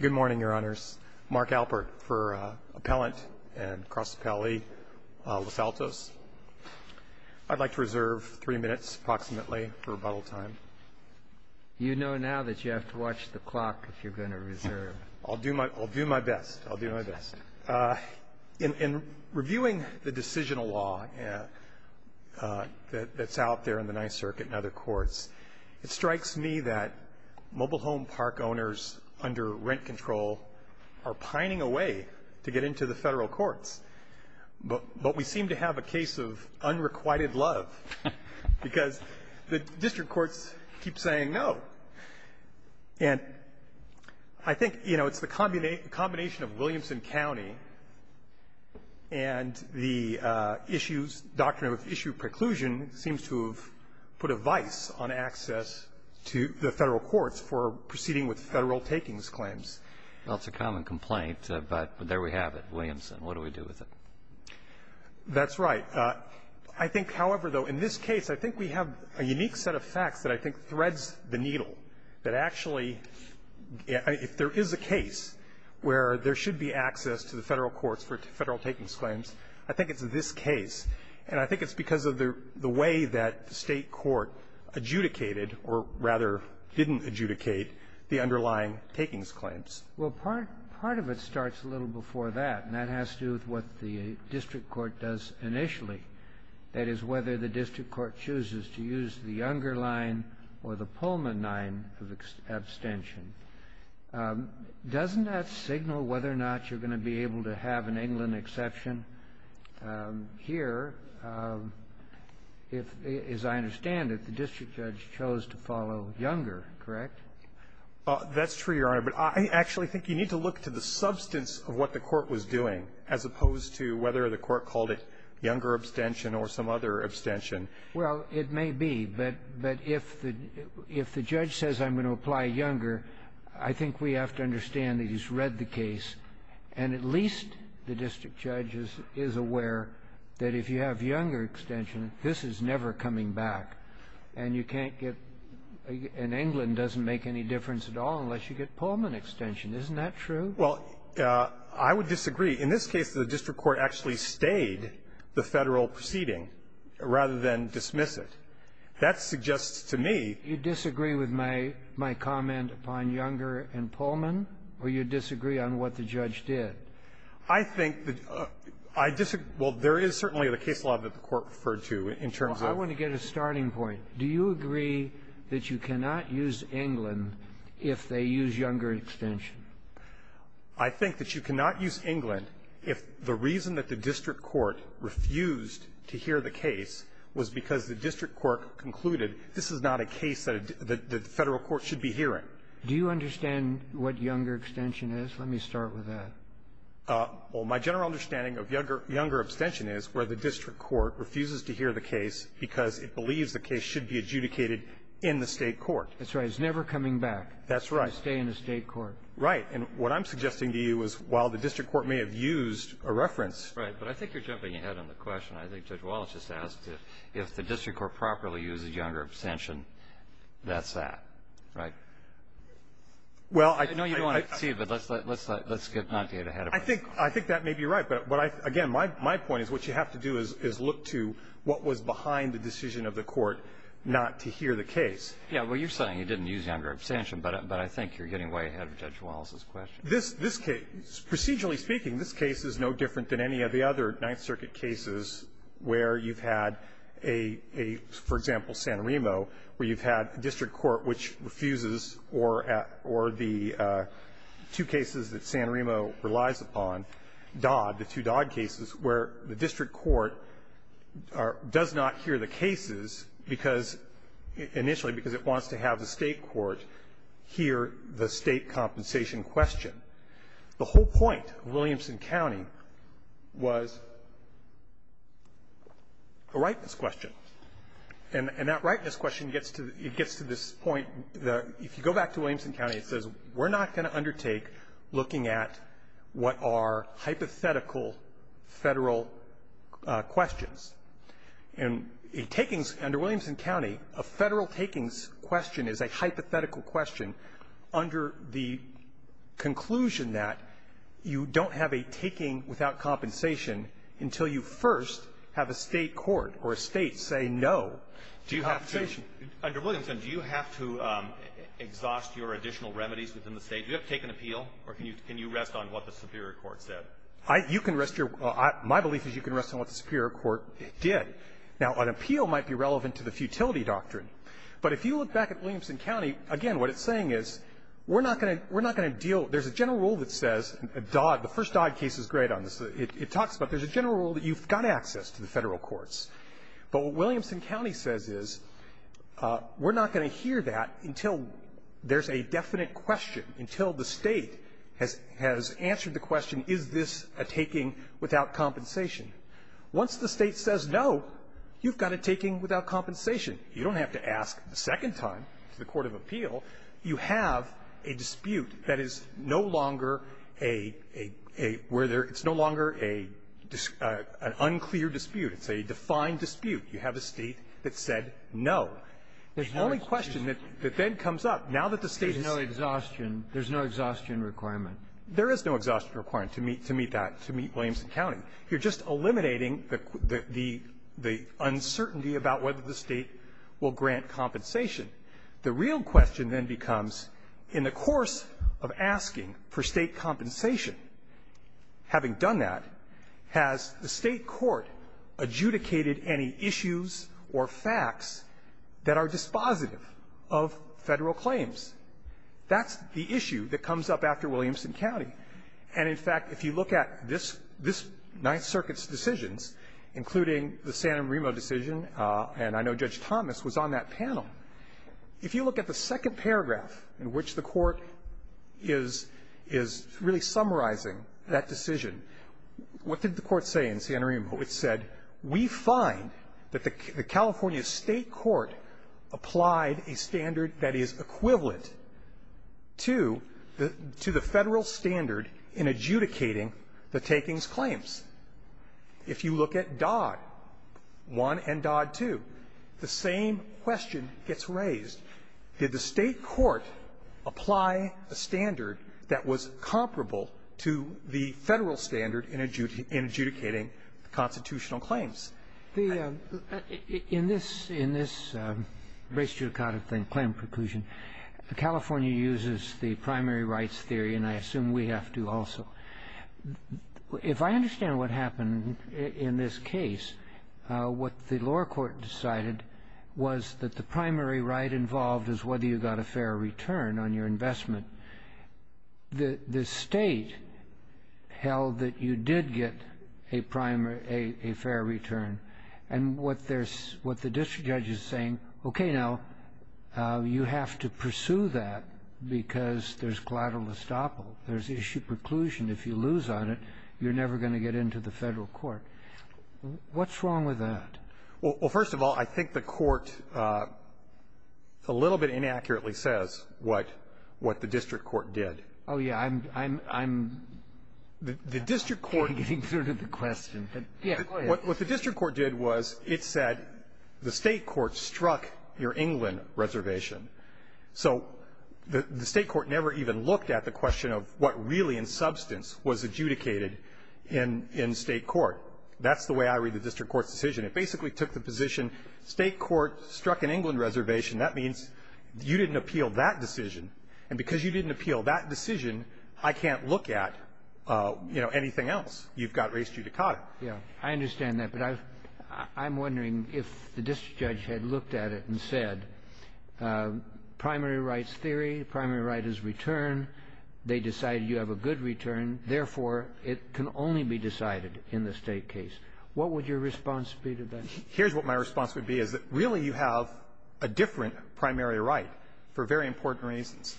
Good morning, Your Honors. Mark Alpert for Appellant and Cross Appellee Los Altos. I'd like to reserve three minutes approximately for rebuttal time. You know now that you have to watch the clock if you're going to reserve. I'll do my best. I'll do my best. In reviewing the decisional law that's out there in the Ninth Circuit and other courts, it strikes me that mobile home park owners under rent control are pining away to get into the federal courts. But we seem to have a case of unrequited love because the district courts keep saying no. And I think it's the combination of Williamson County and the issues, doctrine of issue preclusion seems to have put a vice on access to the federal courts for proceeding with federal takings claims. Well, it's a common complaint, but there we have it, Williamson. What do we do with it? That's right. I think, however, though, in this case, I think we have a unique set of facts that I think threads the needle, that actually if there is a case where there should be access to the federal courts for federal takings claims, I think it's this case. And I think it's because of the way that the state court adjudicated, or rather didn't adjudicate, the underlying takings claims. Well, part of it starts a little before that, and that has to do with what the district court does initially. That is, whether the district court chooses to use the Younger line or the Pullman line of abstention. Doesn't that signal whether or not you're going to be able to have an England exception? Here, if, as I understand it, the district judge chose to follow Younger, correct? That's true, Your Honor. But I actually think you need to look to the substance of what the court was doing as opposed to whether the court called it Younger abstention or some other abstention. Well, it may be. But if the judge says I'm going to apply Younger, I think we have to understand that he's read the case, and at least the district judge is aware that if you have Younger extension, this is never coming back. And you can't get an England doesn't make any difference at all unless you get Pullman extension. Isn't that true? Well, I would disagree. In this case, the district court actually stayed the Federal proceeding rather than dismiss it. That suggests to me you disagree with my comment upon Younger and Pullman? Or you disagree on what the judge did? I think that I disagree. Well, there is certainly the case law that the Court referred to in terms of the case. Well, I want to get a starting point. Do you agree that you cannot use England if they use Younger extension? I think that you cannot use England if the reason that the district court refused to hear the case was because the district court concluded this is not a case that the Federal court should be hearing. Do you understand what Younger extension is? Let me start with that. Well, my general understanding of Younger extension is where the district court refuses to hear the case because it believes the case should be adjudicated in the State court. That's right. It's never coming back. That's right. You stay in the State court. Right. And what I'm suggesting to you is while the district court may have used a reference Right. But I think you're jumping ahead on the question. I think Judge Wallace just asked if the district court properly uses Younger extension, that's that, right? Well, I think I think that may be right. But again, my point is what you have to do is look to what was behind the decision of the court not to hear the case. Yeah. Well, you're saying you didn't use Younger extension, but I think you're getting way ahead of Judge Wallace's question. This case, procedurally speaking, this case is no different than any of the other Ninth Circuit cases where you've had a, for example, San Remo, where you've had a district court which refuses or the two cases that San Remo relies upon, Dodd, the two Dodd cases, where the district court does not hear the cases because initially because it wants to have the State court hear the State compensation question. The whole point of Williamson County was a rightness question. And that rightness question gets to this point that if you go back to Williamson County, it says we're not going to undertake looking at what are hypothetical Federal questions. And a takings under Williamson County, a Federal takings question is a hypothetical question under the conclusion that you don't have a taking without compensation until you first have a State court or a State say no to compensation. Under Williamson, do you have to exhaust your additional remedies within the State? Do you have to take an appeal, or can you rest on what the superior court said? You can rest your my belief is you can rest on what the superior court did. Now, an appeal might be relevant to the futility doctrine. But if you look back at Williamson County, again, what it's saying is we're not going to deal there's a general rule that says Dodd, the first Dodd case is great on this. It talks about there's a general rule that you've got access to the Federal courts. But what Williamson County says is we're not going to hear that until there's a definite question, until the State has answered the question, is this a taking without compensation? Once the State says no, you've got a taking without compensation. You don't have to ask a second time to the court of appeal. You have a dispute that is no longer a – where there – it's no longer a – an unclear dispute. It's a defined dispute. You have a State that said no. The only question that then comes up, now that the State is no exhaustion – There's no exhaustion requirement. There is no exhaustion requirement to meet that, to meet Williamson County. You're just eliminating the uncertainty about whether the State will grant compensation. The real question then becomes, in the course of asking for State compensation, having done that, has the State court adjudicated any issues or facts that are dispositive of Federal claims? That's the issue that comes up after Williamson County. And, in fact, if you look at this – this Ninth Circuit's decisions, including the San Remo decision, and I know Judge Thomas was on that panel. If you look at the second paragraph in which the Court is – is really summarizing that decision, what did the Court say in San Remo? It said, we find that the California State court applied a standard that is equivalent to the – to the Federal standard in adjudicating the takings claims. If you look at Dodd 1 and Dodd 2, the same question gets raised. Did the State court apply a standard that was comparable to the Federal standard in adjudicating constitutional claims? The – In this – in this race judicata thing, claim preclusion, California uses the primary rights theory, and I assume we have to also. If I understand what happened in this case, what the lower court decided was that the primary right involved is whether you got a fair return on your investment. The – the State held that you did get a primary – a fair return. And what there's – what the district judge is saying, okay, now, you have to pursue that because there's collateral estoppel. There's issue preclusion. If you lose on it, you're never going to get into the Federal court. What's wrong with that? Well, first of all, I think the Court a little bit inaccurately says what – what the district court did. Oh, yeah. I'm – I'm getting through to the question, but, yeah, go ahead. What the district court did was it said the State court struck your England reservation. So the State court never even looked at the question of what really in substance was adjudicated in – in State court. That's the way I read the district court's decision. It basically took the position State court struck an England reservation. That means you didn't appeal that decision. And because you didn't appeal that decision, I can't look at, you know, anything else. You've got race judicata. Yeah. I understand that, but I was – I'm wondering if the district judge had looked at it and said primary rights theory, primary right is return, they decided you have a good return, therefore, it can only be decided in the State case. What would your response be to that? Here's what my response would be, is that, really, you have a different primary right for very important reasons.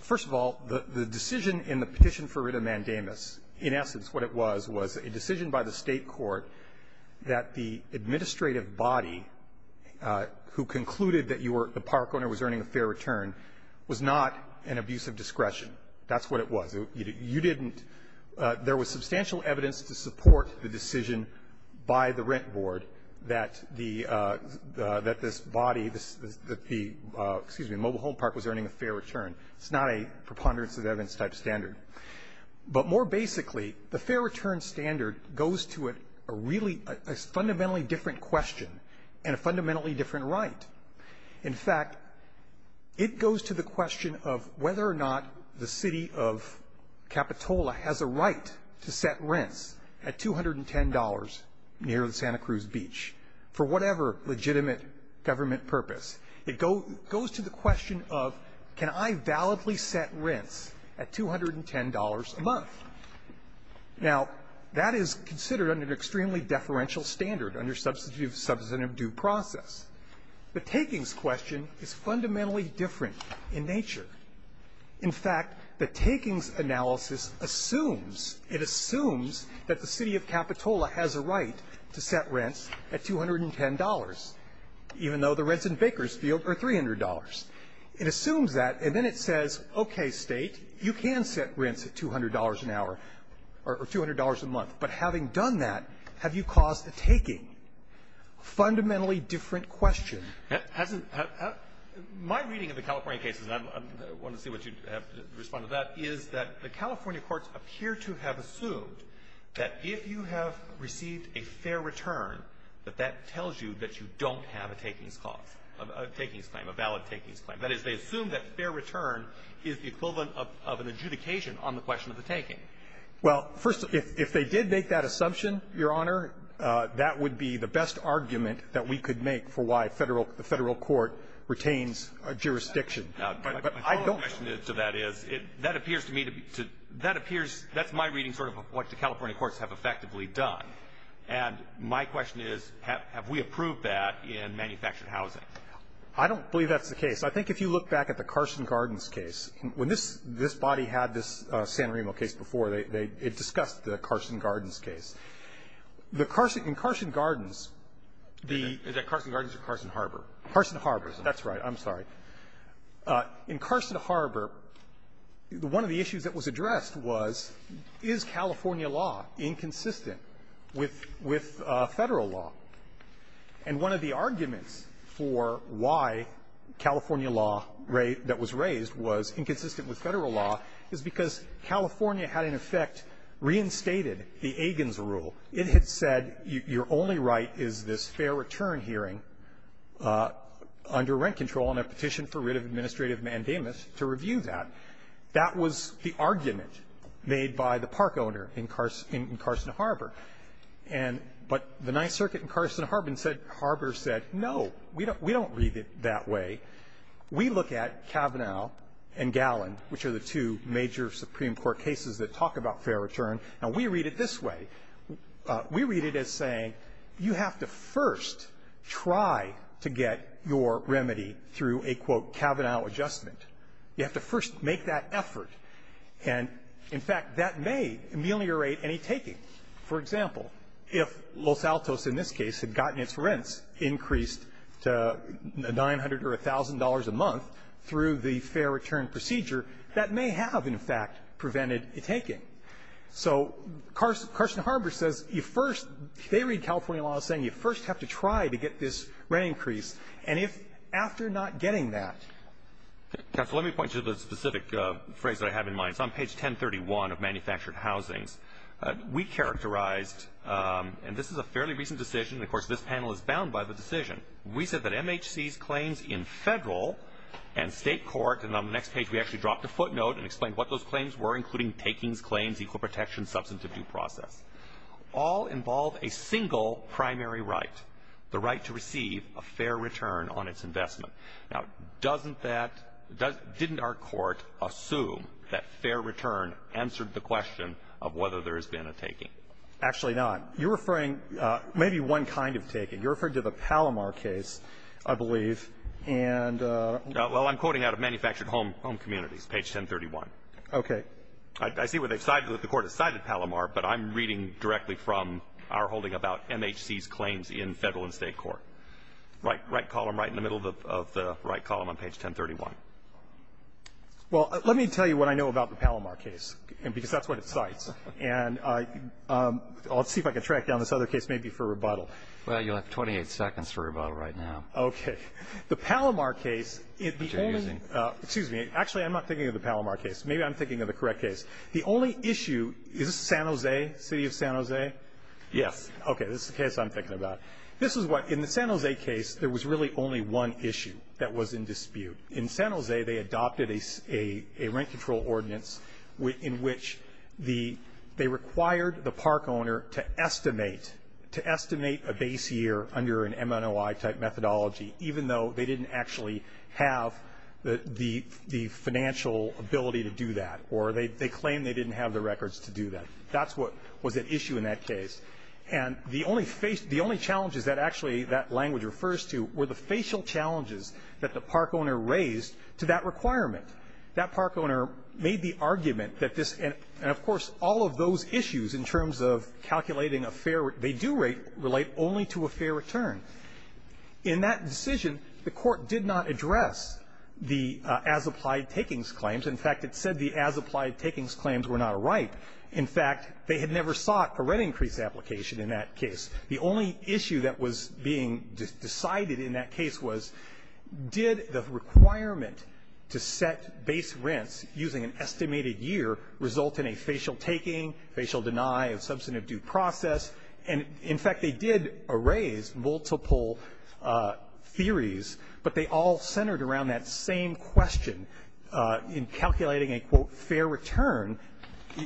First of all, the – the decision in the petition for writ of mandamus, in essence what it was, was a decision by the State court that the administrative body who concluded that you were – the park owner was earning a fair return was not an abuse of discretion. That's what it was. You didn't – there was substantial evidence to support the decision by the rent board that the – that this body, that the – excuse me, mobile home park was earning a fair return. It's not a preponderance of evidence type standard. But more basically, the fair return standard goes to a really – a fundamentally different question and a fundamentally different right. In fact, it goes to the question of whether or not the city of Capitola has a right to set rents at $210 near Santa Cruz Beach for whatever legitimate government purpose. It goes to the question of, can I validly set rents at $210 a month? Now, that is considered under an extremely deferential standard under substantive due process. The takings question is fundamentally different in nature. In fact, the takings analysis assumes – it assumes that the city of Capitola has a right to set rents at $210, even though the rents in Bakersfield are $300. It assumes that, and then it says, okay, State, you can set rents at $200 an hour or $200 a month. But having done that, have you caused a taking? Fundamentally different question. It hasn't – my reading of the California cases, and I want to see what you have to respond to that, is that the California courts appear to have assumed that if you have received a fair return, that that tells you that you don't have a takings cause, a takings claim, a valid takings claim. That is, they assume that fair return is the equivalent of an adjudication on the question of the taking. Well, first, if they did make that assumption, Your Honor, that would be the best argument that we could make for why Federal – the Federal court retains jurisdiction. But I don't – My follow-up question to that is, that appears to me to be – that appears – that's my reading, sort of, of what the California courts have effectively done. And my question is, have we approved that in manufactured housing? I don't believe that's the case. I think if you look back at the Carson Gardens case, when this – this body had this Santorino case before, they – it discussed the Carson Gardens case. The Carson – in Carson Gardens, the – Is that Carson Gardens or Carson Harbor? Carson Harbor. That's right. I'm sorry. In Carson Harbor, one of the issues that was addressed was, is California law inconsistent with – with Federal law? And one of the arguments for why California law that was raised was inconsistent with Federal law is because California had, in effect, reinstated the Aigins rule. It had said your only right is this fair return hearing under rent control on a particular petition for writ of administrative mandamus to review that. That was the argument made by the park owner in Carson Harbor. And – but the Ninth Circuit in Carson Harbor said – Harbor said, no, we don't – we don't read it that way. We look at Kavanaugh and Gallin, which are the two major Supreme Court cases that talk about fair return, and we read it this way. We read it as saying you have to first try to get your remedy through a, quote, Kavanaugh adjustment. You have to first make that effort. And, in fact, that may ameliorate any taking. For example, if Los Altos in this case had gotten its rents increased to $900 or $1,000 a month through the fair return procedure, that may have, in fact, prevented a taking. So Carson Harbor says you first – they read California law as saying you first have to try to get this rent increased. And if – after not getting that. Mr. Lankford. Counsel, let me point you to the specific phrase that I have in mind. It's on page 1031 of manufactured housings. We characterized – and this is a fairly recent decision, and, of course, this panel is bound by the decision. We said that MHC's claims in federal and state court – and on the next page, we actually dropped a footnote and explained what those claims were, including takings, claims, equal protection, substantive due process – all involve a single primary right, the right to receive a fair return on its investment. Now, doesn't that – didn't our court assume that fair return answered the question of whether there has been a taking? Actually, not. You're referring – maybe one kind of taking. You're referring to the Palomar case, I believe, and – Well, I'm quoting out of manufactured home communities, page 1031. Okay. I see where they've cited – the Court has cited Palomar, but I'm reading directly from our holding about MHC's claims in federal and state court. Right column, right in the middle of the right column on page 1031. Well, let me tell you what I know about the Palomar case, because that's what it cites. And I'll see if I can track down this other case, maybe for rebuttal. Well, you'll have 28 seconds for rebuttal right now. Okay. The Palomar case, it became – Which you're using. Excuse me. Actually, I'm not thinking of the Palomar case. Maybe I'm thinking of the correct case. The only issue – is this San Jose, city of San Jose? Yes. Okay, this is the case I'm thinking about. This is what – in the San Jose case, there was really only one issue that was in dispute. In San Jose, they adopted a rent control ordinance in which the – they required the park owner to estimate – to estimate a base year under an MNOI-type methodology, even though they didn't actually have the financial ability to do that, or they claimed they didn't have the records to do that. That's what was at issue in that case. And the only – the only challenges that actually that language refers to were the facial challenges that the park owner raised to that requirement. That park owner made the argument that this – and of course, all of those issues in terms of calculating a fair – they do relate only to a fair return. In that decision, the court did not address the as-applied takings claims. In fact, it said the as-applied takings claims were not a right. In fact, they had never sought a rent increase application in that case. The only issue that was being decided in that case was, did the requirement to set base rents using an estimated year result in a facial taking, facial deny of substantive due process? And in fact, they did raise multiple theories, but they all centered around that same question in calculating a, quote, fair return.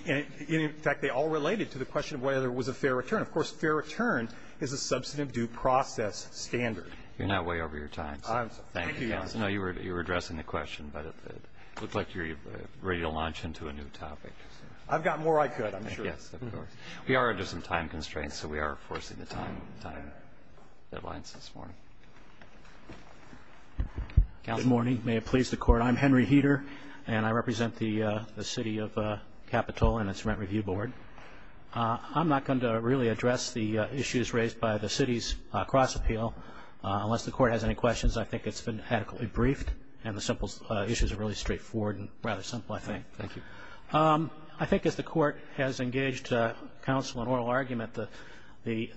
And in fact, they all related to the question of whether it was a fair return. Of course, fair return is a substantive due process standard. You're now way over your time, sir. I am, sir. Thank you, counsel. No, you were addressing the question, but it looked like you were ready to launch into a new topic. I've got more I could, I'm sure. Yes, of course. We are under some time constraints, so we are enforcing the time deadlines this morning. Counsel. Good morning. May it please the court. I'm Henry Heeter, and I represent the city of Capitola and its rent review board. I'm not going to really address the issues raised by the city's cross-appeal. Unless the court has any questions, I think it's been adequately briefed, and the simple issues are really straightforward and rather simple, I think. Thank you. I think as the court has engaged counsel in oral argument, the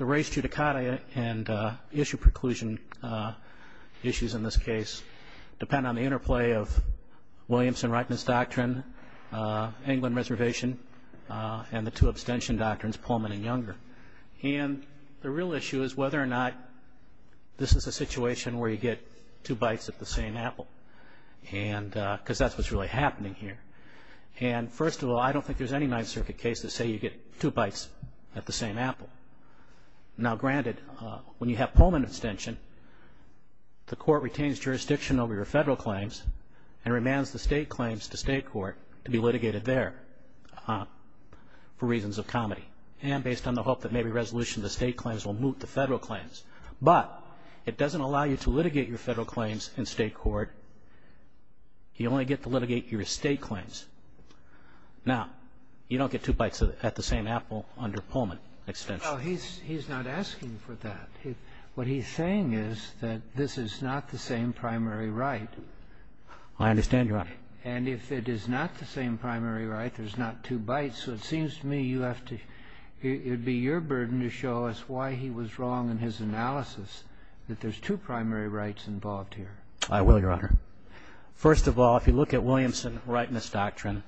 race judicata and issue preclusion issues in this case depend on the interplay of Williamson-Reitman's doctrine, England Reservation, and the two abstention doctrines, Pullman and Younger. And the real issue is whether or not this is a situation where you get two bites at the same apple, because that's what's really happening here. And first of all, I don't think there's any Ninth Circuit case that say you get two bites at the same apple. Now granted, when you have Pullman abstention, the court retains jurisdiction over your federal claims and remands the state claims to state court to be litigated there for reasons of comedy and based on the hope that maybe resolution to state claims will moot the federal claims. But it doesn't allow you to litigate your federal claims in state court. You only get to litigate your state claims. Now, you don't get two bites at the same apple under Pullman abstention. Well, he's not asking for that. What he's saying is that this is not the same primary right. I understand your argument. And if it is not the same primary right, there's not two bites. So it seems to me you have to – it would be your burden to show us why he was wrong in his analysis that there's two primary rights involved here. I will, Your Honor. First of all, if you look at Williamson's rightness doctrine,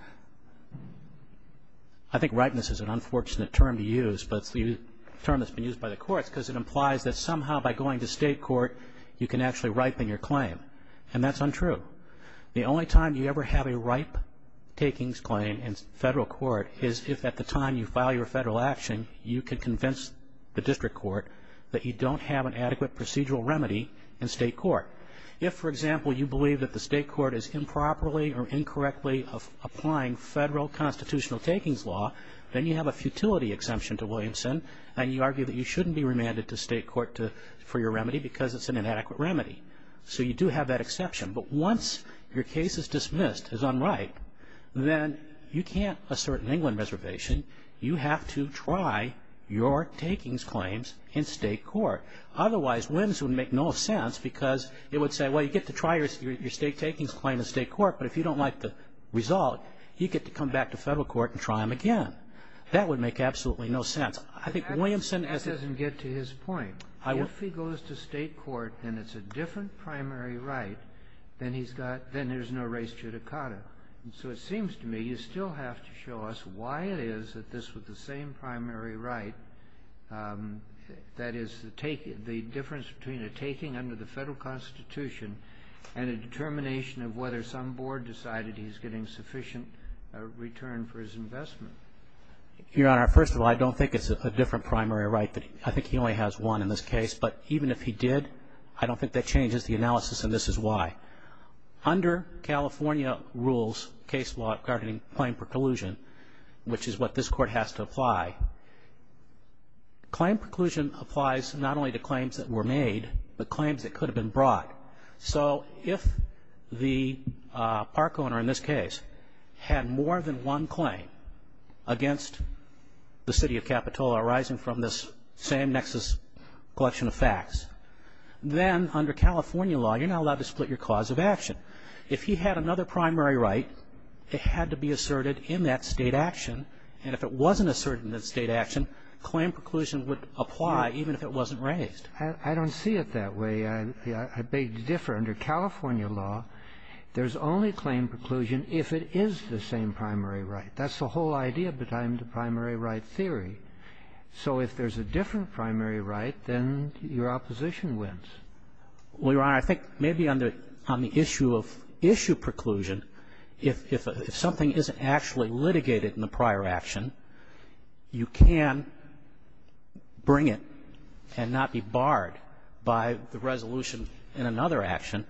I think rightness is an unfortunate term to use, but it's a term that's been used by the courts because it implies that somehow by going to state court, you can actually ripen your claim. And that's untrue. The only time you ever have a ripe takings claim in federal court is if at the time you file your federal action, you can convince the district court that you don't have an adequate procedural remedy in state court. If, for example, you believe that the state court is improperly or incorrectly applying federal constitutional takings law, then you have a futility exemption to Williamson, and you argue that you shouldn't be remanded to state court for your remedy because it's an inadequate remedy. So you do have that exception. But once your case is dismissed as unripe, then you can't assert an England reservation. You have to try your takings claims in state court. Otherwise, Williams would make no sense because it would say, well, you get to try your state takings claim in state court, but if you don't like the result, you get to come back to federal court and try them again. That would make absolutely no sense. I think Williamson has... That doesn't get to his point. If he goes to state court and it's a different primary right, then he's got... then there's no res judicata. And so it seems to me you still have to show us why it is that this was the same primary right that is the take the difference between a taking under the federal Constitution and a determination of whether some board decided he's getting sufficient return for his investment. Your Honor, first of all, I don't think it's a different primary right. I think he only has one in this case. But even if he did, I don't think that changes the analysis, and this is why. Under California rules, case law regarding claim preclusion, which is what this court has to apply, claim preclusion applies not only to claims that were made, but claims that could have been brought. So if the park owner in this case had more than one claim against the city of Capitola arising from this same nexus collection of facts, then under California law, you're not allowed to split your cause of action. If he had another primary right, it had to be asserted in that state action. And if it wasn't asserted in that state action, claim preclusion would apply even if it wasn't raised. I don't see it that way. I beg to differ. Under California law, there's only claim preclusion if it is the same primary right. That's the whole idea behind the primary right theory. So if there's a different primary right, then your opposition wins. Well, Your Honor, I think maybe on the issue of issue preclusion, if something isn't actually litigated in the prior action, you can bring it and not be barred by the resolution in another action.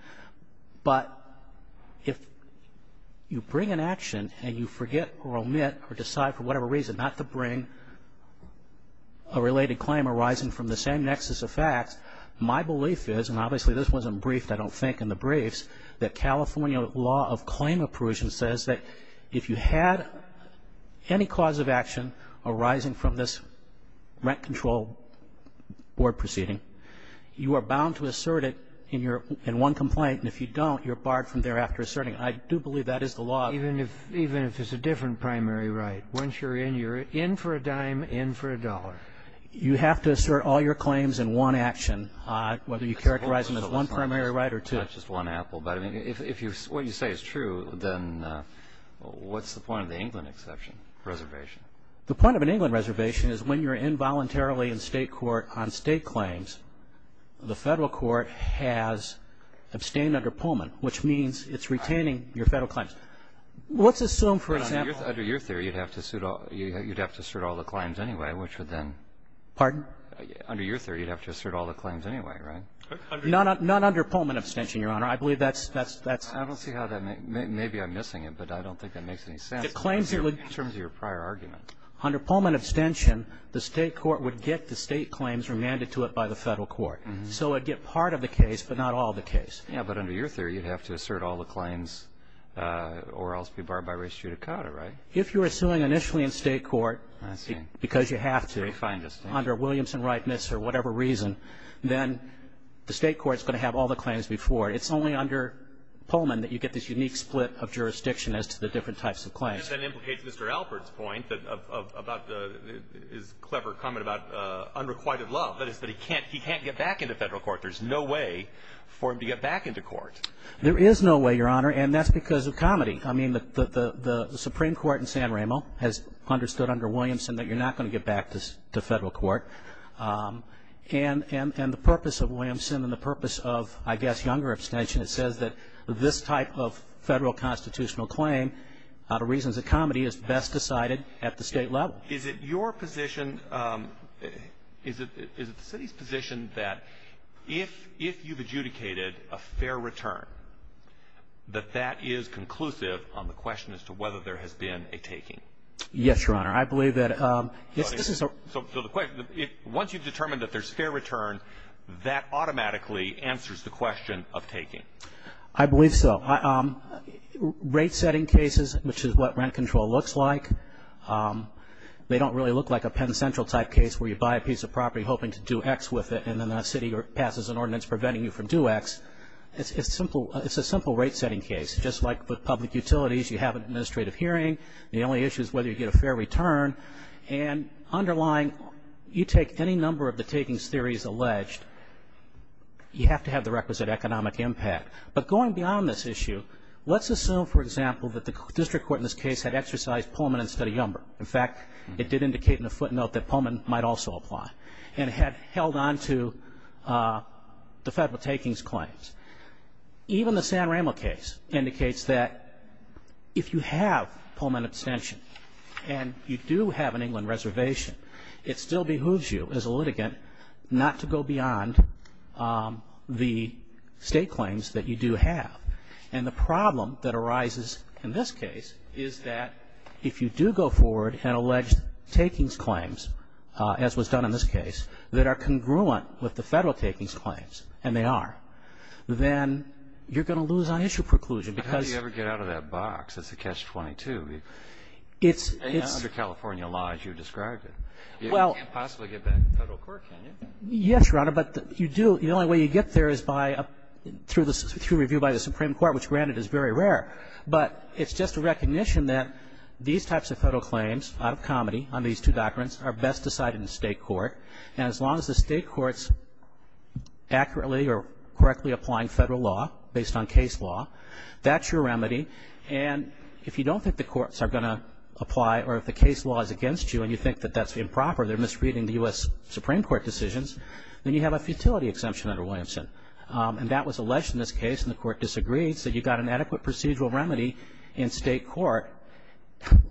But if you bring an action and you forget or omit or decide for a related claim arising from the same nexus of facts, my belief is, and obviously this wasn't briefed, I don't think, in the briefs, that California law of claim approval says that if you had any cause of action arising from this rent control board proceeding, you are bound to assert it in one complaint, and if you don't, you're barred from thereafter asserting. I do believe that is the law. Even if it's a different primary right. Once you're in, you're in for a dime, in for a dollar. You have to assert all your claims in one action, whether you characterize them as one primary right or two. It's not just one apple, but I mean, if what you say is true, then what's the point of the England exception reservation? The point of an England reservation is when you're involuntarily in state court on state claims, the federal court has abstained under Pullman, which means it's retaining your federal claims. Let's assume, for example- Under your theory, you'd have to assert all the claims anyway, which would then- Pardon? Under your theory, you'd have to assert all the claims anyway, right? Not under Pullman abstention, Your Honor. I believe that's- I don't see how that makes- maybe I'm missing it, but I don't think that makes any sense- It claims- In terms of your prior argument. Under Pullman abstention, the state court would get the state claims remanded to it by the federal court. So it'd get part of the case, but not all the case. Yeah, but under your theory, you'd have to assert all the claims or else be barred by res judicata, right? If you're suing initially in state court- I see. Because you have to- Very fine, just saying. Under Williamson-Wright-Misser, whatever reason, then the state court's going to have all the claims before it. It's only under Pullman that you get this unique split of jurisdiction as to the different types of claims. And that implicates Mr. Alpert's point about the- his clever comment about unrequited love, that is that he can't get back into federal court. There's no way for him to get back into court. There is no way, Your Honor, and that's because of comedy. I mean, the Supreme Court in San Ramo has understood under Williamson that you're not going to get back to federal court. And the purpose of Williamson and the purpose of, I guess, Younger abstention, it says that this type of federal constitutional claim, out of reasons of comedy, is best decided at the state level. Is it your position- is it the city's position that if you've adjudicated a fair return, that that is conclusive on the question as to whether there has been a taking? Yes, Your Honor. I believe that- So the question- once you've determined that there's fair return, that automatically answers the question of taking. I believe so. Rate-setting cases, which is what rent control looks like, they don't really look like a Penn Central type case where you buy a piece of property hoping to do X with it, and then the city passes an ordinance preventing you from do X. It's a simple rate-setting case. Just like with public utilities, you have an administrative hearing. The only issue is whether you get a fair return. And underlying, you take any number of the takings theories alleged, you have to have the requisite economic impact. But going beyond this issue, let's assume, for example, that the district court in this case had exercised Pullman instead of Younger. In fact, it did indicate in the footnote that Pullman might also apply. And had held on to the federal takings claims. Even the San Ramo case indicates that if you have Pullman abstention and you do have an England reservation, it still behooves you as a litigant not to go beyond the state claims that you do have. And the problem that arises in this case is that if you do go forward and allege takings claims, as was done in this case, that are congruent with the federal takings claims, and they are, then you're going to lose on-issue preclusion because How do you ever get out of that box? It's a catch-22. It's Under California laws, you described it. You can't possibly get back to federal court, can you? Yes, Your Honor, but you do. The only way you get there is by through review by the Supreme Court, which granted is very rare. But it's just a recognition that these types of federal claims, out of comedy, on these two documents, are best decided in state court. And as long as the state courts accurately or correctly applying federal law based on case law, that's your remedy. And if you don't think the courts are going to apply, or if the case law is against you and you think that that's improper, they're misreading the U.S. Supreme Court decisions, then you have a futility exemption under Williamson. And that was alleged in this case, and the court disagreed. So you got an adequate procedural remedy in state court.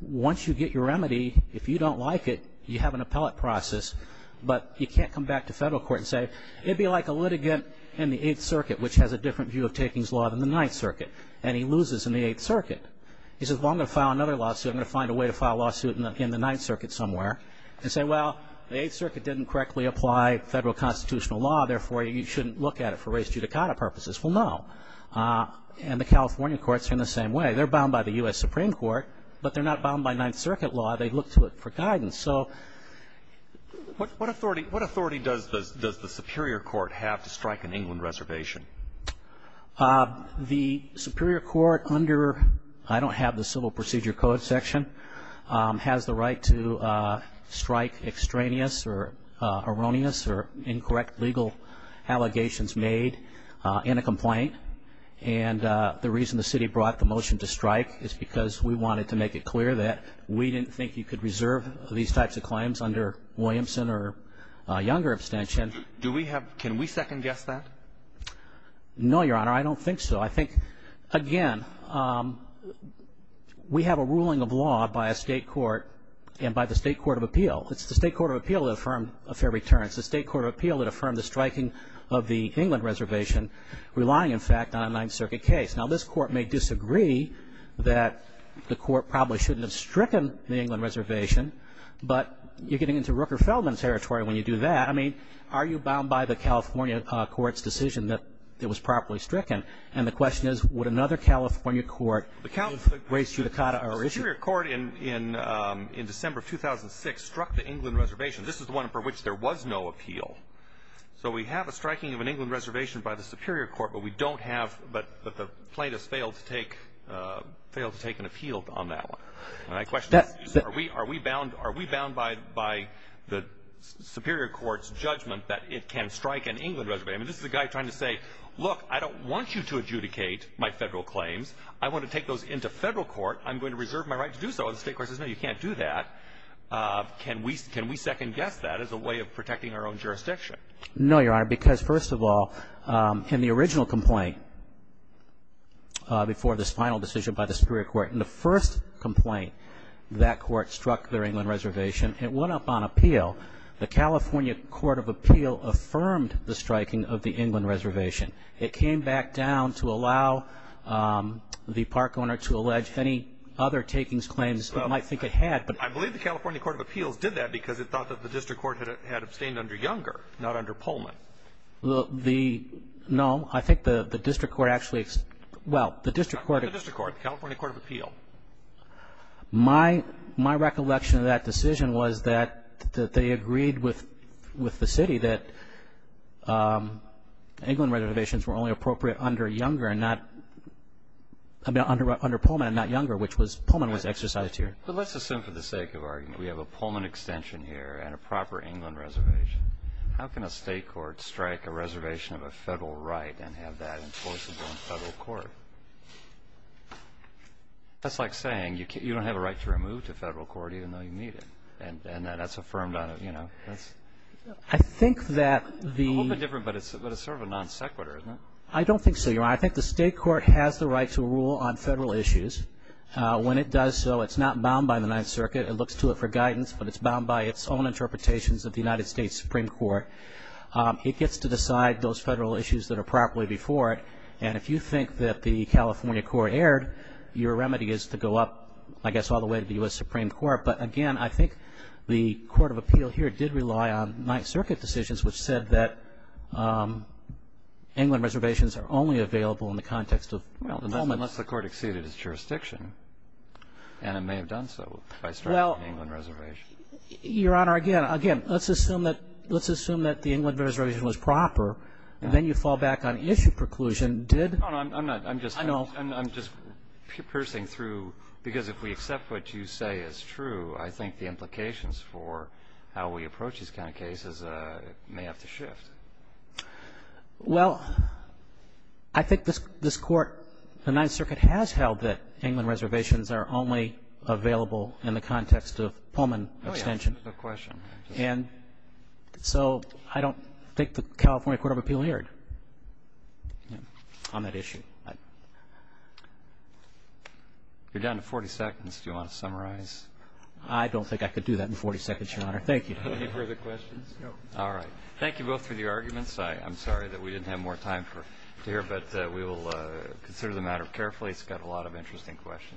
Once you get your remedy, if you don't like it, you have an appellate process. But you can't come back to federal court and say, it'd be like a litigant in the Eighth Circuit, which has a different view of takings law than the Ninth Circuit. And he loses in the Eighth Circuit. He says, well, I'm going to file another lawsuit. I'm going to find a way to file a lawsuit in the Ninth Circuit somewhere. And say, well, the Eighth Circuit didn't correctly apply federal constitutional law, therefore you shouldn't look at it for race judicata purposes. Well, no. And the California courts are in the same way. They're bound by the U.S. Supreme Court. But they're not bound by Ninth Circuit law. They look to it for guidance. So what authority does the Superior Court have to strike an England reservation? The Superior Court under, I don't have the Civil Procedure Code section, has the right to strike extraneous or erroneous or incorrect legal allegations made in a complaint. And the reason the city brought the motion to strike is because we wanted to make it clear that we didn't think you could reserve these types of claims under Williamson or a younger abstention. Do we have, can we second guess that? No, Your Honor, I don't think so. I think, again, we have a ruling of law by a state court and by the state court of appeal. It's the state court of appeal that affirmed a fair return. It's the state court of appeal that affirmed the striking of the England reservation relying, in fact, on a Ninth Circuit case. Now, this court may disagree that the court probably shouldn't have stricken the England reservation, but you're getting into Rooker-Feldman territory when you do that. I mean, are you bound by the California court's decision that it was properly stricken? And the question is, would another California court raise judicata or issue? The Superior Court in December of 2006 struck the England reservation. This is the one for which there was no appeal. So we have a striking of an England reservation by the Superior Court, but we don't have, but the plaintiffs failed to take an appeal on that one. And my question is, are we bound by the Superior Court's judgment that it can strike an England reservation? I mean, this is a guy trying to say, look, I don't want you to adjudicate my federal claims. I want to take those into federal court. I'm going to reserve my right to do so. And the state court says, no, you can't do that. Can we second guess that as a way of protecting our own jurisdiction? No, Your Honor, because first of all, in the original complaint before this final decision by the Superior Court, in the first complaint, that court struck their England reservation. It went up on appeal. The California Court of Appeal affirmed the striking of the England reservation. It came back down to allow the park owner to allege any other takings claims it might think it had. I believe the California Court of Appeals did that because it thought that the district court had abstained under Younger, not under Pullman. Well, the, no, I think the district court actually, well, the district court- Not the district court, the California Court of Appeal. My recollection of that decision was that they agreed with the city that England reservations were only appropriate under Pullman and not Younger, which was, Pullman was exercised here. But let's assume for the sake of argument, we have a Pullman extension here and a proper England reservation. How can a state court strike a reservation of a federal right and have that enforceable in federal court? That's like saying you don't have a right to remove to federal court even though you need it, and that's affirmed on, you know, that's- I think that the- A little bit different, but it's sort of a non sequitur, isn't it? I don't think so, Your Honor. I think the state court has the right to rule on federal issues. When it does so, it's not bound by the Ninth Circuit. It looks to it for guidance, but it's bound by its own interpretations of the United States Supreme Court. It gets to decide those federal issues that are properly before it. And if you think that the California court erred, your remedy is to go up, I guess, all the way to the U.S. Supreme Court. But again, I think the court of appeal here did rely on Ninth Circuit decisions, which said that England reservations are only available in the context of Pullman. Unless the court exceeded its jurisdiction, and it may have done so by striking an England reservation. Your Honor, again, let's assume that the England reservation was proper, and then you fall back on issue preclusion, did- No, no, I'm just piercing through, because if we accept what you say is true, I think the implications for how we approach these kind of cases may have to shift. Well, I think this Court, the Ninth Circuit has held that England reservations are only available in the context of Pullman extension. Oh, yeah, that's a good question. And so I don't think the California court of appeal erred on that issue. You're down to 40 seconds. Do you want to summarize? I don't think I could do that in 40 seconds, Your Honor. Thank you. Any further questions? No. All right. Thank you both for the arguments. I'm sorry that we didn't have more time to hear, but we will consider the matter carefully. It's got a lot of interesting questions.